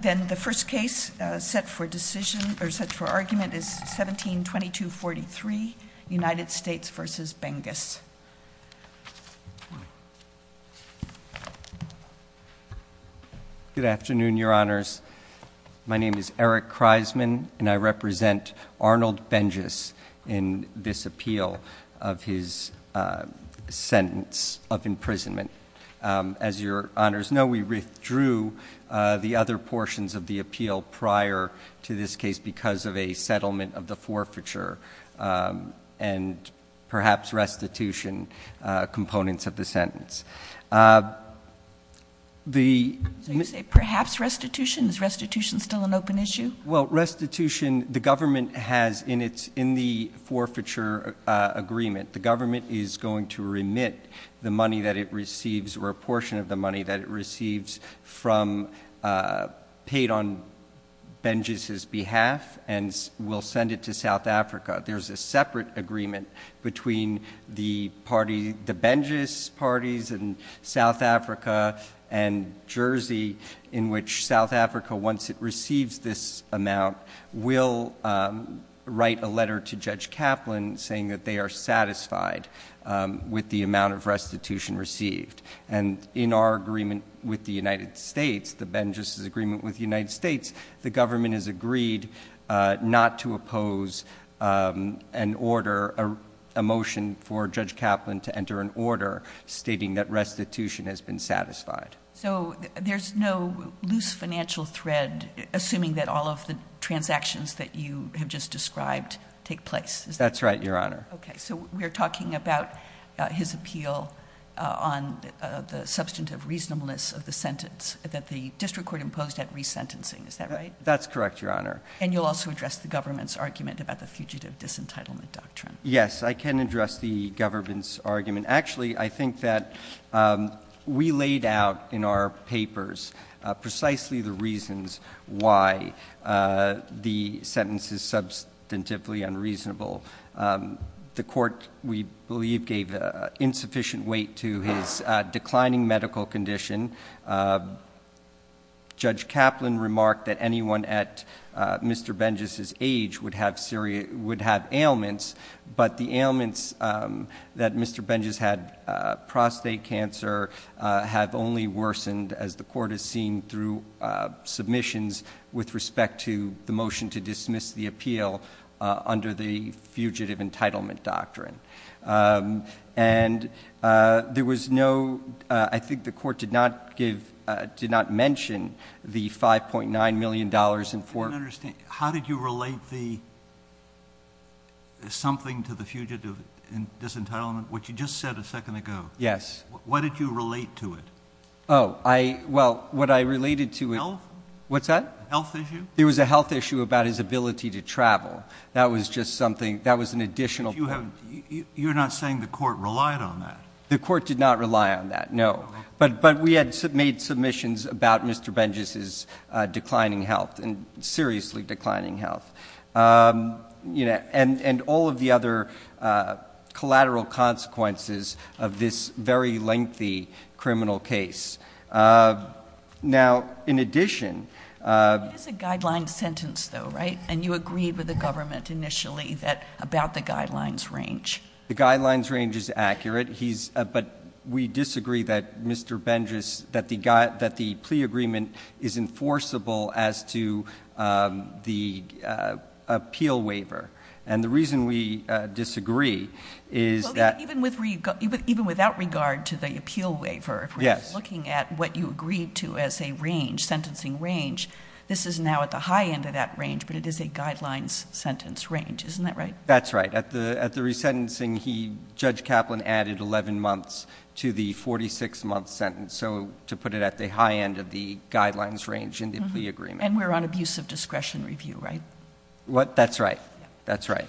Then the first case set for decision or set for argument is 1722 43 United States v. Bengus. Good afternoon your honors. My name is Eric Kreisman and I represent Arnold Bengus in this case. I'm going to talk a little bit about the restitution. The restitution is a portion of the appeal prior to this case because of a settlement of the forfeiture. And perhaps restitution components of the sentence. Perhaps restitution? Is restitution still an open issue? Restitution, the government has in the forfeiture agreement, the government is going to remit the money that it receives or a portion of the money that it receives from, paid on Bengus's behalf and will send it to South Africa. There's a separate agreement between the party, the Bengus parties in South Africa and Jersey in which South Africa, once it receives this amount, will write a letter to Judge Kaplan saying that they are satisfied with the amount of restitution received. And in our agreement with the United States, the Bengus's agreement with the United States, the government has agreed not to oppose an order, a motion for Judge Kaplan to enter an order stating that restitution has been satisfied. So there's no loose financial thread assuming that all of the things that were described take place. That's right, Your Honor. Okay, so we're talking about his appeal on the substantive reasonableness of the sentence that the district court imposed at resentencing, is that right? That's correct, Your Honor. And you'll also address the government's argument about the fugitive disentitlement doctrine? Yes, I can address the government's argument. Actually, I think that we laid out in our papers precisely the reasons why the sentence is substantively unreasonable. The court, we believe, gave insufficient weight to his declining medical condition. Judge Kaplan remarked that anyone at Mr. Bengus's age would have ailments, but the have only worsened as the court has seen through submissions with respect to the motion to dismiss the appeal under the fugitive entitlement doctrine. And there was no, I think the court did not give, did not mention the $5.9 million in for- I don't understand, how did you relate the something to the fugitive disentitlement, which you just said a second ago? Yes. What did you relate to it? Oh, I, well, what I related to- Health? What's that? Health issue? There was a health issue about his ability to travel. That was just something, that was an additional- You have, you're not saying the court relied on that? The court did not rely on that, no. But, but we had made submissions about Mr. Bengus's declining health and seriously declining health, you know, and all of the other collateral consequences of this very lengthy criminal case. Now, in addition- It is a guideline sentence though, right? And you agreed with the government initially that, about the guidelines range. The guidelines range is accurate. He's, but we disagree that Mr. Bengus, that the plea agreement is enforceable as to the appeal waiver. And the reason we disagree is that- Even without regard to the appeal waiver, if we're looking at what you agreed to as a range, sentencing range, this is now at the high end of that range, but it is a guidelines sentence range. Isn't that right? That's right. At the resentencing, Judge Kaplan added 11 months to the 46 month sentence. So to put it at the high end of the guidelines range in the plea agreement. And we're on abuse of discretion review, right? What? That's right. That's right.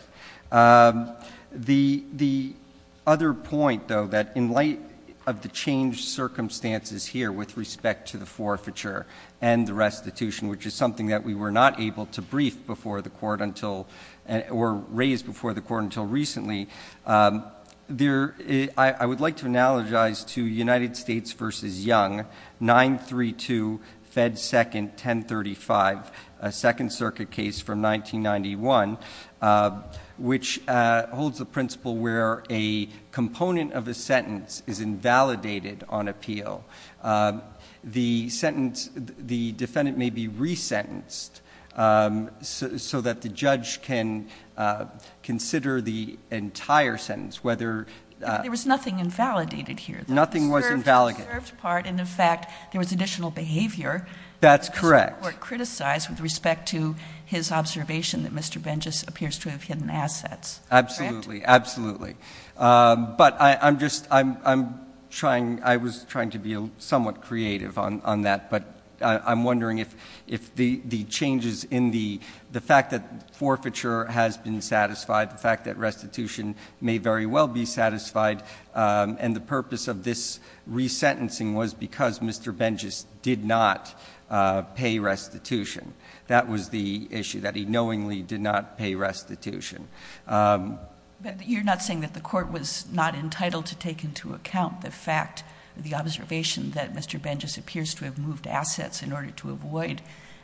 The other point though, that in light of the changed circumstances here with respect to the forfeiture and the restitution, which is something that we were not able to brief before the court until, or raise before the court until recently, there, I would like to analogize to United States versus Young, 932 Fed 2nd, 1035, a second circuit case from 1991, which holds the principle where a component of a sentence is invalidated on appeal. Um, the sentence, the defendant may be resentenced, um, so, so that the judge can, uh, consider the entire sentence, whether, uh- There was nothing invalidated here. Nothing was invalidated. The observed part. And in fact, there was additional behavior. That's correct. Criticized with respect to his observation that Mr. Benjes appears to have hidden assets. Absolutely. Absolutely. Um, but I, I'm just, I'm, I'm trying, I was trying to be somewhat creative on, on that, but I'm wondering if, if the, the changes in the, the fact that forfeiture has been satisfied, the fact that restitution may very well be satisfied. Um, and the purpose of this resentencing was because Mr. Benjes did not, uh, pay restitution. That was the issue that he knowingly did not pay restitution. Um- You're not saying that the court was not entitled to take into account the fact, the observation that Mr. Benjes appears to have moved assets in order to avoid,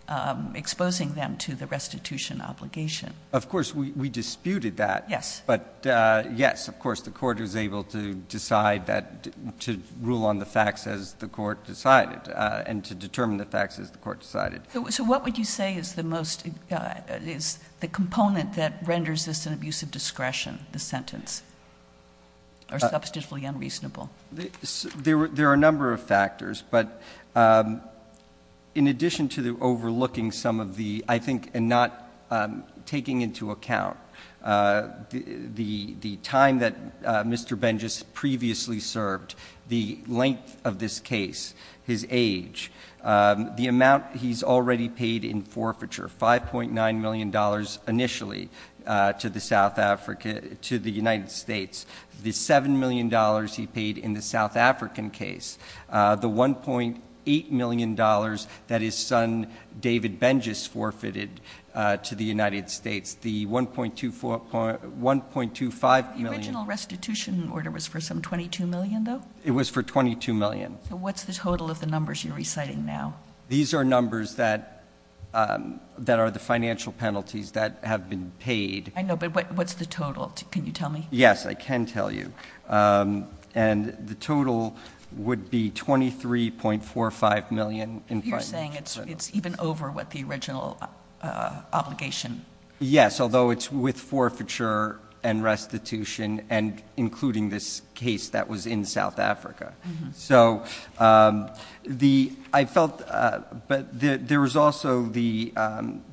um, exposing them to the restitution obligation. Of course, we, we disputed that. Yes. But, uh, yes, of course, the court was able to decide that to rule on the facts as the court decided, uh, and to determine the facts as the court decided. So what would you say is the most, uh, is the component that renders this an abuse of discretion, the sentence, or substantially unreasonable? There were, there are a number of factors, but, um, in addition to the overlooking some of the, I think, and not, um, taking into account, uh, the, the, the time that, uh, Mr. Benjes previously served, the length of this case, his age, um, the amount he's already paid in initially, uh, to the South Africa, to the United States, the $7 million he paid in the South African case, uh, the $1.8 million that his son, David Benjes forfeited, uh, to the United States, the 1.24, 1.25 million- The original restitution order was for some 22 million though? It was for 22 million. So what's the total of the numbers you're reciting now? These are numbers that, um, that are the financial penalties that have been paid. I know, but what's the total? Can you tell me? Yes, I can tell you. Um, and the total would be 23.45 million. You're saying it's, it's even over what the original, uh, obligation? Yes. Although it's with forfeiture and restitution and including this case that was in South Africa. So, um, the, I felt, uh, but the, there was also the, um,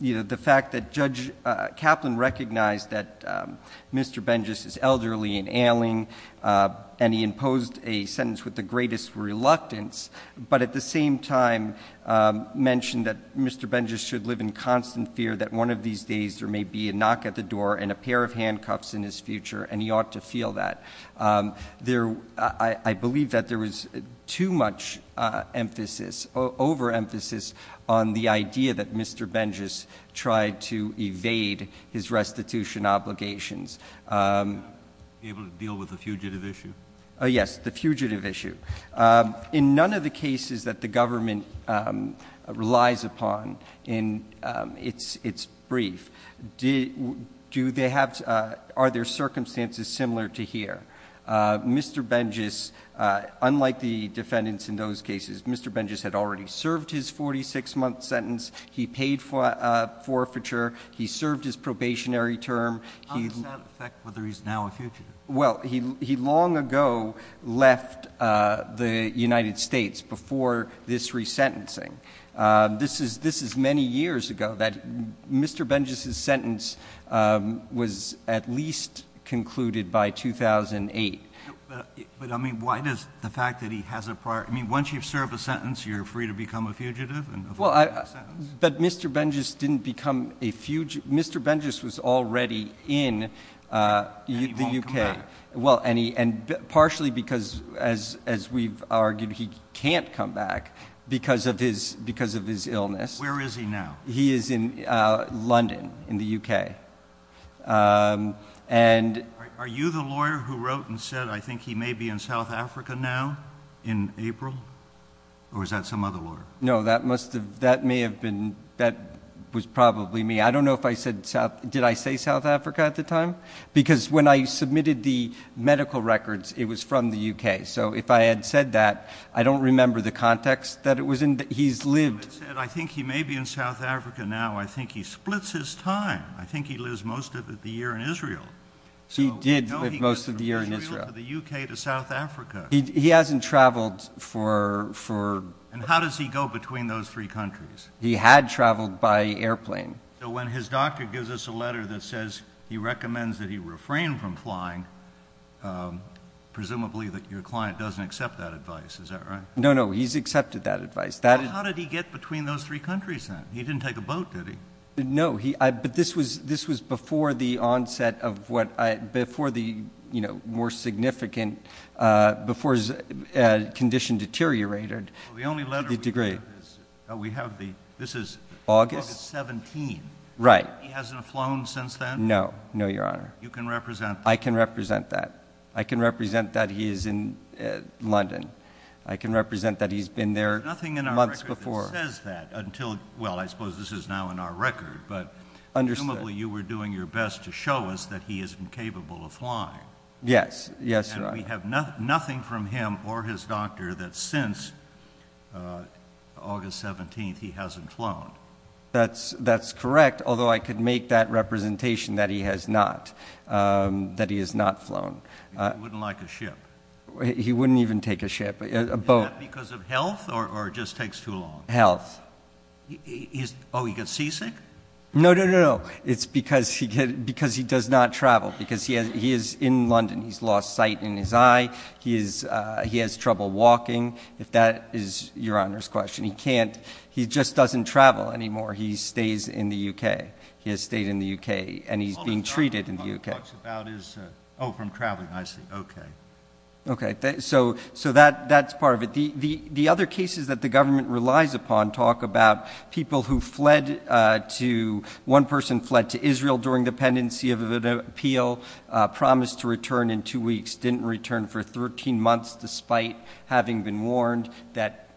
you know, the fact that Judge Kaplan recognized that, um, Mr. Benjes is elderly and ailing, uh, and he imposed a sentence with the greatest reluctance, but at the same time, um, mentioned that Mr. Benjes should live in constant fear that one of these days there may be a knock at the door and a pair of handcuffs in his future. And he ought to feel that, um, there, I, I believe that there was too much, uh, emphasis over emphasis on the idea that Mr. Benjes tried to evade his restitution obligations, um, able to deal with the fugitive issue. Oh yes. The fugitive issue. Um, in none of the cases that the government, um, relies upon in, um, it's, it's brief. Do they have, uh, are there circumstances similar to here? Uh, Mr. Benjes, uh, unlike the defendants in those cases, Mr. Benjes had already served his 46 month sentence. He paid for, uh, forfeiture. He served his probationary term. How does that affect whether he's now a fugitive? Well, he, he long ago left, uh, the United States before this resentencing. Um, this is, this is many years ago that Mr. Benjes, his sentence, um, was at least concluded by 2008. But I mean, why does the fact that he has a prior, I mean, once you've served a sentence, you're free to become a fugitive. But Mr. Benjes didn't become a fugitive. Mr. Benjes was already in, uh, the UK. Well, and he, and partially because as, as we've argued, he can't come back because of his, because of his illness. Where is he now? He is in, uh, London in the UK. Um, and are you the lawyer who wrote and said, I think he may be in South Africa now in April or is that some other lawyer? No, that must've, that may have been, that was probably me. I don't know if I said South, did I say South Africa at the time? Because when I submitted the I don't remember the context that it was in that he's lived. I think he may be in South Africa now. I think he splits his time. I think he lives most of the year in Israel. So he did most of the year in Israel, the UK to South Africa. He hasn't traveled for, for, and how does he go between those three countries? He had traveled by airplane. So when his doctor gives us a letter that says he recommends that he refrained from flying, um, presumably that your client doesn't accept that advice. Is that right? No, no. He's accepted that advice. How did he get between those three countries then? He didn't take a boat, did he? No, he, I, but this was, this was before the onset of what I, before the, you know, more significant, uh, before his, uh, condition deteriorated. The only letter we have is, we have the, this is August 17. Right. He hasn't flown since then? No, no, your honor. You can represent. I can represent that. I can represent that he is in London. I can represent that he's been there months before. There's nothing in our record that says that until, well, I suppose this is now in our record, but presumably you were doing your best to show us that he isn't capable of flying. Yes, yes, your honor. We have nothing from him or his doctor that since, uh, August 17th, he hasn't flown. That's, that's correct. Although I could make that he wouldn't even take a ship because of health or it just takes too long health. Oh, he gets seasick. No, no, no, no. It's because he gets, because he does not travel because he has, he is in London. He's lost sight in his eye. He is, uh, he has trouble walking. If that is your honor's question, he can't, he just doesn't travel anymore. He stays in the UK. He has stayed in the Okay. So, so that, that's part of it. The, the, the other cases that the government relies upon talk about people who fled, uh, to one person fled to Israel during the pendency of an appeal, a promise to return in two weeks, didn't return for 13 months despite having been warned that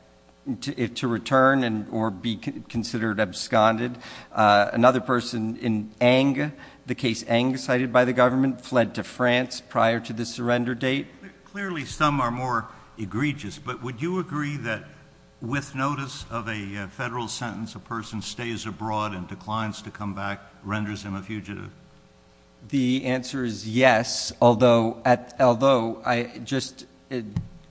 to return and or be considered absconded. Uh, another person in anger, the case anger cited by the government fled to France prior to the surrender date. Clearly some are more egregious, but would you agree that with notice of a federal sentence, a person stays abroad and declines to come back, renders him a fugitive? The answer is yes. Although at, although I just,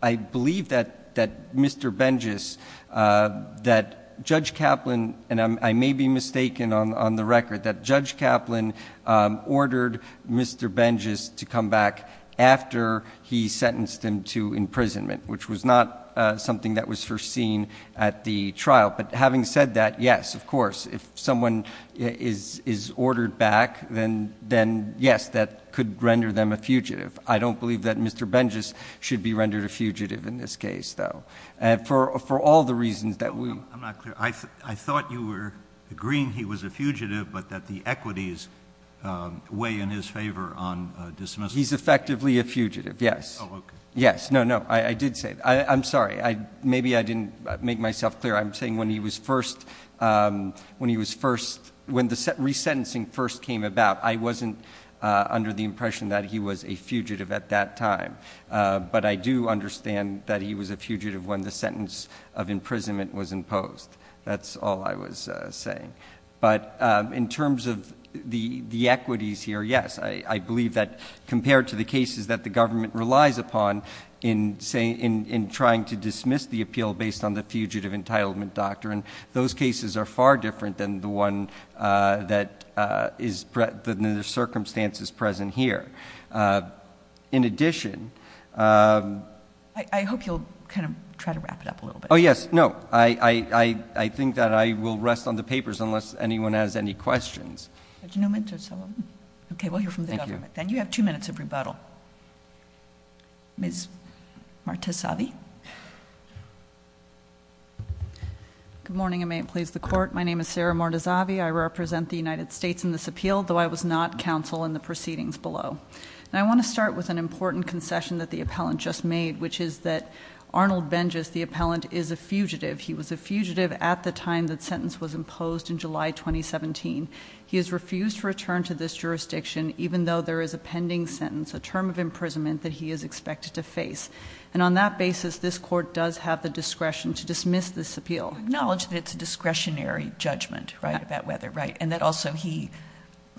I believe that, that Mr. Benjus, uh, that judge Kaplan, and I may be mistaken on, on the record that judge Kaplan, um, ordered Mr. Benjus to come back after he sentenced him to imprisonment, which was not, uh, something that was foreseen at the trial. But having said that, yes, of course, if someone is, is ordered back, then, then yes, that could render them a fugitive. I don't believe that Mr. Benjus should be rendered a fugitive in this case though. And for, for all the reasons that we, I'm not clear. I thought you were agreeing he was a fugitive, but that the equities, um, weigh in his favor on dismissal. He's effectively a fugitive. Yes. Yes. No, no, I did say, I'm sorry. I maybe I didn't make myself clear. I'm saying when he was first, um, when he was first, when the re-sentencing first came about, I wasn't, uh, under the impression that he was a fugitive at that time. Uh, but I do understand that he was a fugitive when the sentence of imprisonment was imposed. That's all I was saying. But, um, in terms of the, the equities here, yes, I, I believe that compared to the cases that the government relies upon in saying, in, in trying to dismiss the appeal based on the fugitive entitlement doctrine, those cases are far different than the one, uh, that, uh, is the circumstances present here. Uh, in addition, um, I hope you'll kind of try to wrap it up a little bit. Oh yes. No, I, I, I, I think that I will rest on the papers unless anyone has any questions. Okay. Well, you're from the government. Then you have two minutes of rebuttal. Ms. Marta Savvy. Good morning. I may please the court. My name is Sarah Marta Savvy. I represent the United States in this appeal, though I was not counsel in the proceedings below. And I want to start with an important concession that the appellant just made, which is that Arnold Bengis, the appellant, is a fugitive. He was a fugitive at the time that sentence was imposed in July, 2017. He has refused to return to this jurisdiction, even though there is a pending sentence, a term of imprisonment that he is expected to face. And on that basis, this court does have the discretion to dismiss this appeal. Acknowledge that it's a discretionary judgment, right, about whether, and that also he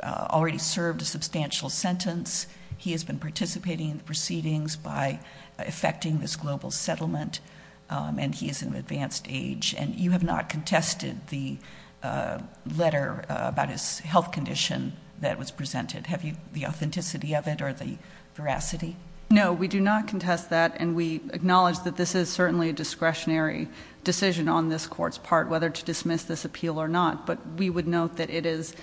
already served a substantial sentence. He has been participating in the proceedings by effecting this global settlement. And he is an advanced age and you have not contested the letter about his health condition that was presented. Have you the authenticity of it or the veracity? No, we do not contest that. And we acknowledge that this is certainly a discretionary decision on this court's part, whether to dismiss this appeal or not. But we would note that it is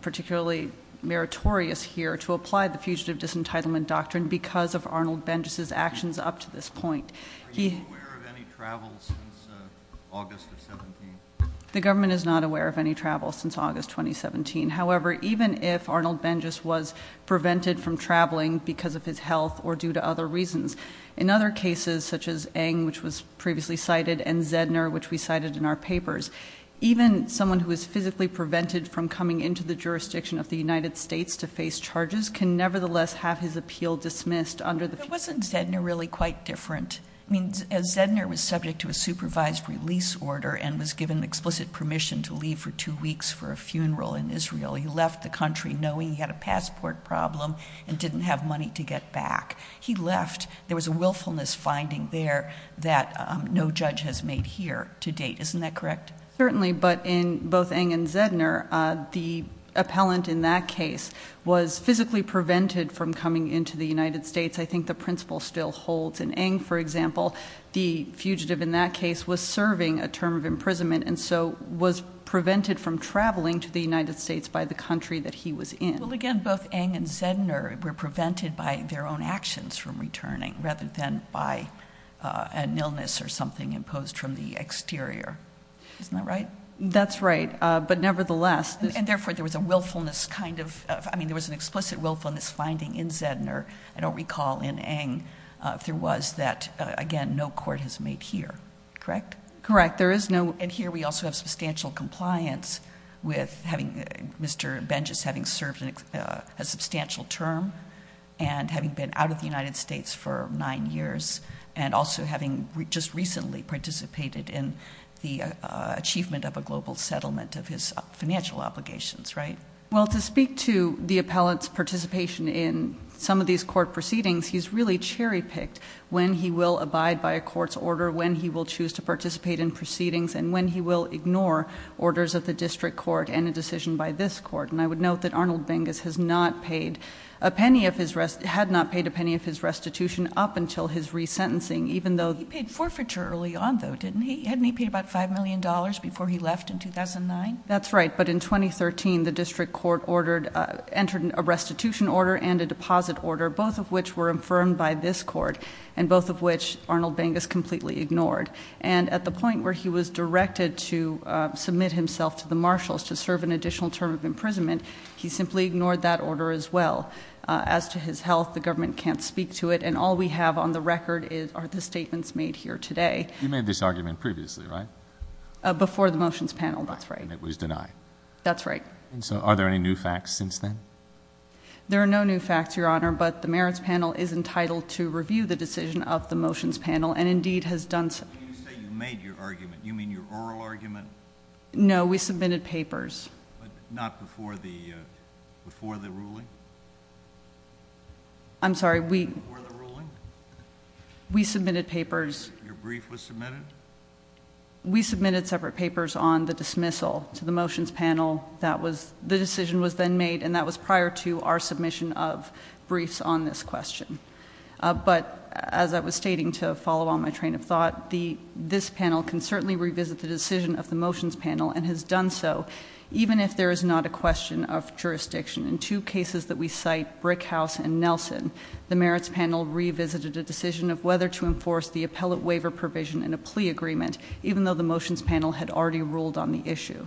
particularly meritorious here to apply the Fugitive Disentitlement Doctrine because of Arnold Bengis's actions up to this point. Are you aware of any travel since August of 17? The government is not aware of any travel since August 2017. However, even if Arnold Bengis was prevented from traveling because of his health or due to other reasons, in other cases such as Ng, which was previously cited, and Zedner, which we cited in our papers, even someone who is physically prevented from coming into the jurisdiction of the United States to face charges can nevertheless have his appeal dismissed under the Fugitive Disentitlement Doctrine. But wasn't Zedner really quite different? I mean, Zedner was subject to a supervised release order and was given explicit permission to leave for two weeks for a funeral in Israel. He left the country knowing he had a passport problem and didn't have money to get back. He left. There was a willfulness finding there that no judge has made here to date. Isn't that correct? Certainly. But in both Ng and Zedner, the appellant in that case was physically prevented from coming into the United States. I think the principle still holds. In Ng, for example, the fugitive in that case was serving a term of imprisonment and so was prevented from traveling to the United States by the country that he was in. Well, again, both Ng and Zedner were prevented by their own actions from returning rather than by an illness or something imposed from the exterior. Isn't that right? That's right, but nevertheless... And therefore, there was a willfulness kind of... I mean, there was an explicit willfulness finding in Zedner, I don't recall in Ng, if there was that, again, no court has made here. Correct? Correct. There is no... And here we also have substantial compliance with Mr. Bengis having served a substantial term and having been out of the and also having just recently participated in the achievement of a global settlement of his financial obligations, right? Well, to speak to the appellant's participation in some of these court proceedings, he's really cherry-picked when he will abide by a court's order, when he will choose to participate in proceedings, and when he will ignore orders of the district court and a decision by this court. And I would note that Arnold Bengis had not paid a penny of his restitution up until his resentencing, even though... He paid forfeiture early on, though, didn't he? Hadn't he paid about $5 million before he left in 2009? That's right, but in 2013, the district court entered a restitution order and a deposit order, both of which were infirmed by this court, and both of which Arnold Bengis completely ignored. And at the point where he was directed to submit himself to the marshals to serve an additional term of imprisonment, he simply ignored that order as well. As to his health, the government can't speak to it, and all we have on the record are the statements made here today. You made this argument previously, right? Before the motions panel, that's right. And it was denied. That's right. And so, are there any new facts since then? There are no new facts, Your Honor, but the merits panel is entitled to review the decision of the motions panel, and indeed has done... When you say you made your argument, you mean your oral argument? No, we submitted papers. But not before the ruling? I'm sorry, we... Before the ruling? We submitted papers. Your brief was submitted? We submitted separate papers on the dismissal to the motions panel. The decision was then made, and that was prior to our submission of briefs on this question. But as I was stating to follow on my train of thought, this panel can certainly revisit the decision of the motions panel and has jurisdiction. In two cases that we cite, Brickhouse and Nelson, the merits panel revisited a decision of whether to enforce the appellate waiver provision in a plea agreement, even though the motions panel had already ruled on the issue.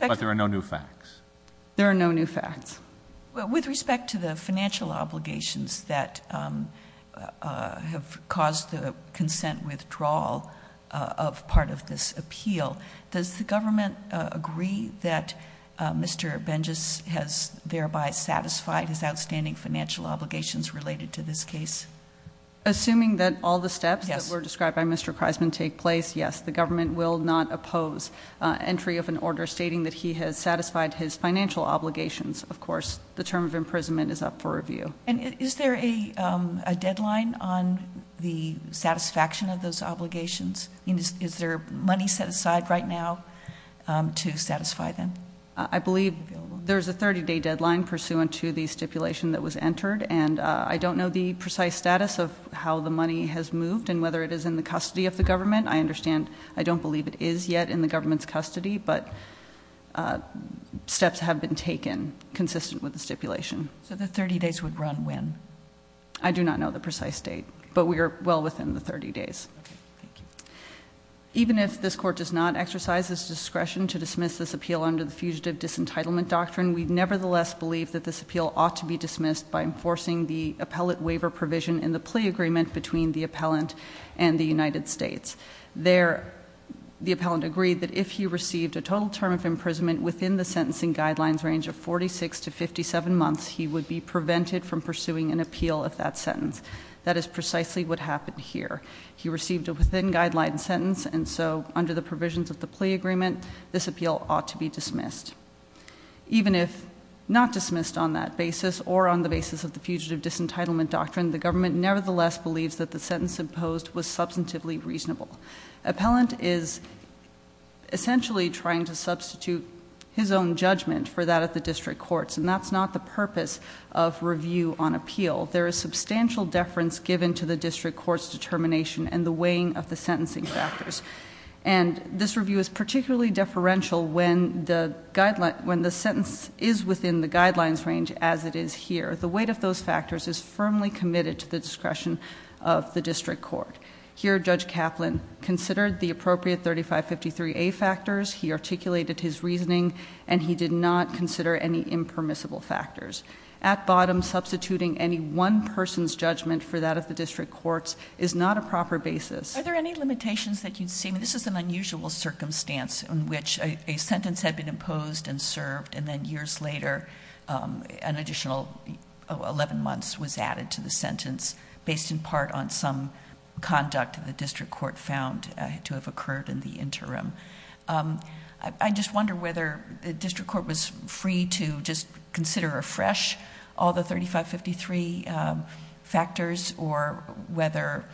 But there are no new facts? There are no new facts. With respect to the financial obligations that have caused the consent withdrawal of part of this appeal, does the government agree that Mr. Bengis has thereby satisfied his outstanding financial obligations related to this case? Assuming that all the steps that were described by Mr. Kreisman take place, yes, the government will not oppose entry of an order stating that he has satisfied his financial obligations. Of course, the term of imprisonment is up for review. And is there a deadline on the satisfaction of those obligations? Is there money set aside right to satisfy them? I believe there's a 30-day deadline pursuant to the stipulation that was entered. And I don't know the precise status of how the money has moved and whether it is in the custody of the government. I understand. I don't believe it is yet in the government's custody, but steps have been taken consistent with the stipulation. So the 30 days would run when? I do not know the precise date, but we are well within the 30 days. Thank you. Even if this court does not exercise its discretion to dismiss this appeal under the fugitive disentitlement doctrine, we nevertheless believe that this appeal ought to be dismissed by enforcing the appellate waiver provision in the plea agreement between the appellant and the United States. The appellant agreed that if he received a total term of imprisonment within the sentencing guidelines range of 46 to 57 months, he would be prevented from pursuing an appeal of that sentence. That is precisely what happened here. He received a within-guideline sentence, and so under the provisions of the plea agreement, this appeal ought to be dismissed. Even if not dismissed on that basis or on the basis of the fugitive disentitlement doctrine, the government nevertheless believes that the sentence imposed was substantively reasonable. Appellant is essentially trying to substitute his own judgment for that at the district courts, and that's not the purpose of review on appeal. There is substantial deference given to the district court's determination and the weighing of the sentencing factors, and this review is particularly deferential when the sentence is within the guidelines range as it is here. The weight of those factors is firmly committed to the discretion of the district court. Here, Judge Kaplan considered the appropriate 3553A factors, he articulated his reasoning, and he did not consider any impermissible factors. At bottom, substituting any one person's judgment for that at the district courts is not a proper basis. Are there any limitations that you'd see? This is an unusual circumstance in which a sentence had been imposed and served, and then years later, an additional 11 months was added to the sentence based in part on some conduct the district court found to have occurred in the interim. I just wonder whether the district court was free to just consider afresh all the 3553 factors, or whether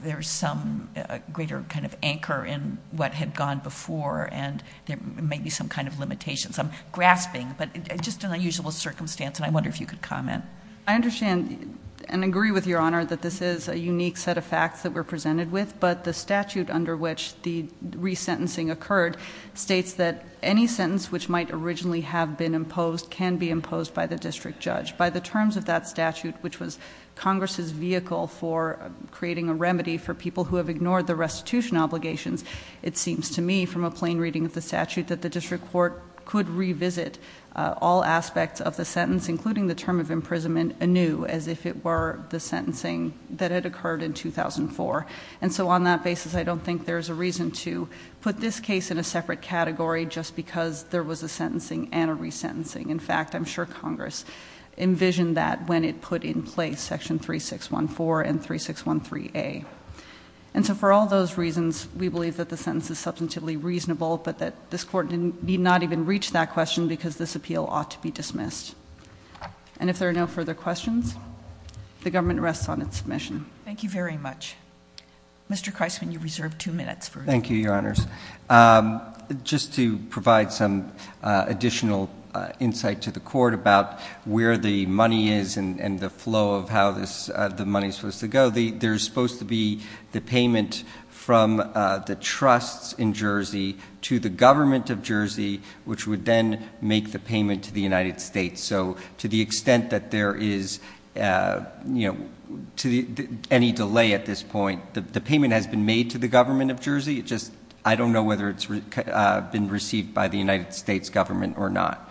there's some greater kind of anchor in what had gone before, and there may be some kind of limitations. I'm grasping, but it's just an unusual circumstance, and I wonder if you could comment. I understand and agree with Your Honor that this is a unique set of facts that we're presented with, but the statute under which the resentencing occurred states that any sentence which might originally have been imposed can be imposed by the district judge. By the terms of that statute, which was Congress's vehicle for creating a remedy for people who have ignored the restitution obligations, it seems to me from a plain reading of the statute that the district court could revisit all aspects of the sentence, including the term of imprisonment, anew, as if it were the sentencing that had occurred in 2004. And so on that basis, I don't think there's a reason to put this case in a separate category just because there was a sentencing and a resentencing. In fact, I'm sure Congress envisioned that when it put in place section 3614 and 3613A. And so for all those reasons, we believe that the sentence is substantively reasonable, but that this Court did not even reach that question because this appeal ought to be dismissed. And if there are no further questions, the government rests on its submission. Thank you very much. Mr. Kreisman, you reserved two minutes. Thank you, Your Honors. Just to provide some additional insight to the Court about where the money is and the flow of how the money is supposed to go, there's supposed to be the payment from the trusts in Jersey to the government of Jersey, which would then make the payment to the United States. So to the extent that there is any delay at this point, the payment has been made to the government of Jersey. It's just I don't know whether it's been received by the United States government or not.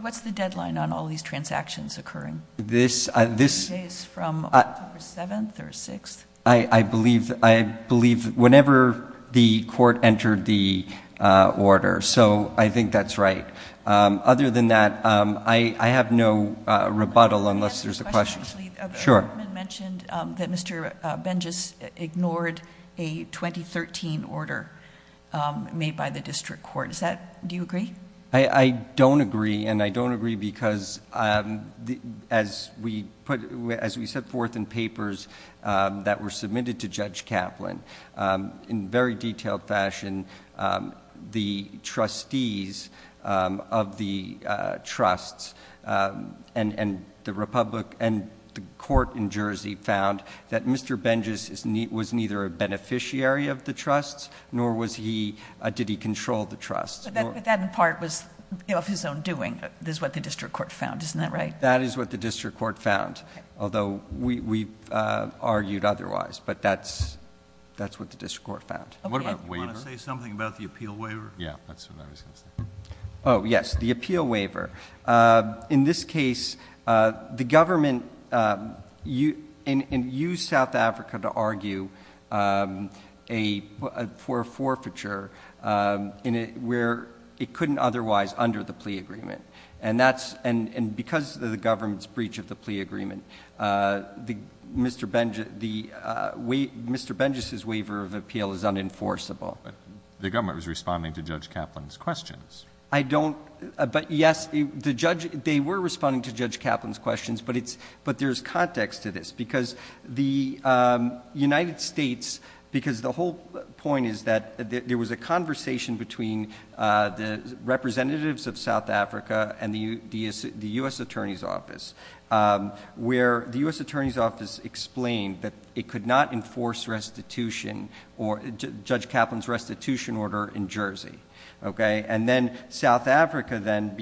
What's the deadline on all these transactions occurring? This is from October 7th or 6th? I believe whenever the Court entered the order, so I think that's right. Other than that, I have no rebuttal unless there's a question. I have a question actually. Sure. The government mentioned that Mr. Bengis ignored a 2013 order made by the District Court. Do you agree? I don't agree, and I don't agree because as we set forth in papers that were submitted to Judge Kaplan, in very detailed fashion, the trustees of the trusts and the court in Jersey found that Mr. Bengis was neither a beneficiary of the trusts nor did he control the trusts. But that in part was of his own doing, is what the District Court found, isn't that right? That is what the District Court found, although we've argued otherwise, but that's what the District Court found. What about waiver? You want to say something about the appeal waiver? Yeah, that's what I was going to say. Oh yes, the appeal waiver. In this case, the government used South Africa to argue for a forfeiture where it couldn't otherwise, under the plea agreement. And because of the government's breach of the plea agreement, Mr. Bengis's waiver of appeal is unenforceable. But the government was responding to Judge Kaplan's questions. I don't, but yes, they were responding to Judge Kaplan's questions, but there's context to this because the United States, because the whole point is that there was a conversation between the representatives of South Africa and the U.S. Attorney's Office where the U.S. Attorney's Office explained that it could not enforce restitution or Judge Kaplan's restitution order in Jersey. And then South Africa then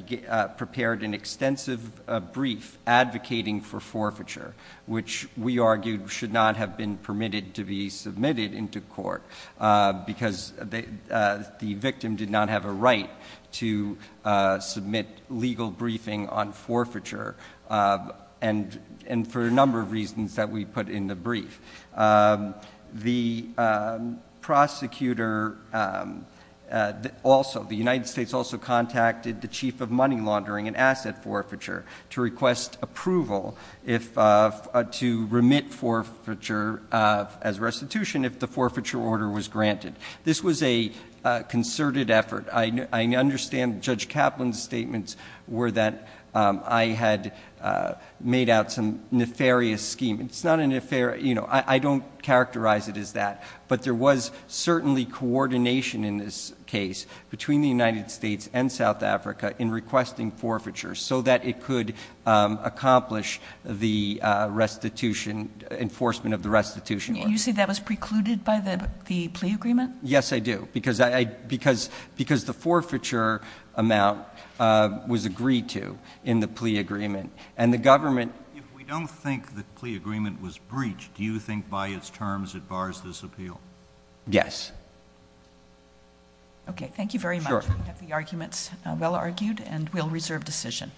prepared an extensive brief advocating for forfeiture, which we argued should not have been permitted to be submitted into court because the victim did not have a right to submit legal briefing on forfeiture, and for a number of reasons that we put in the brief. The prosecutor also, the United States also contacted the Chief of Money Laundering and Asset Forfeiture to request approval to remit forfeiture as restitution if the forfeiture order was granted. This was a concerted effort. I understand Judge Kaplan's statements were that I had made out some nefarious scheme. It's not a nefarious, you know, I don't characterize it as that, but there was certainly coordination in this case between the United States and South Africa in requesting forfeiture so that it could accomplish the restitution, enforcement of the restitution order. You say that was precluded by the plea agreement? Yes, I do. Because the forfeiture amount was agreed to in the plea agreement. And the government... If we don't think the plea agreement was breached, do you think by its terms it bars this appeal? Yes. Okay, thank you very much. We have the arguments well argued and we'll reserve decision.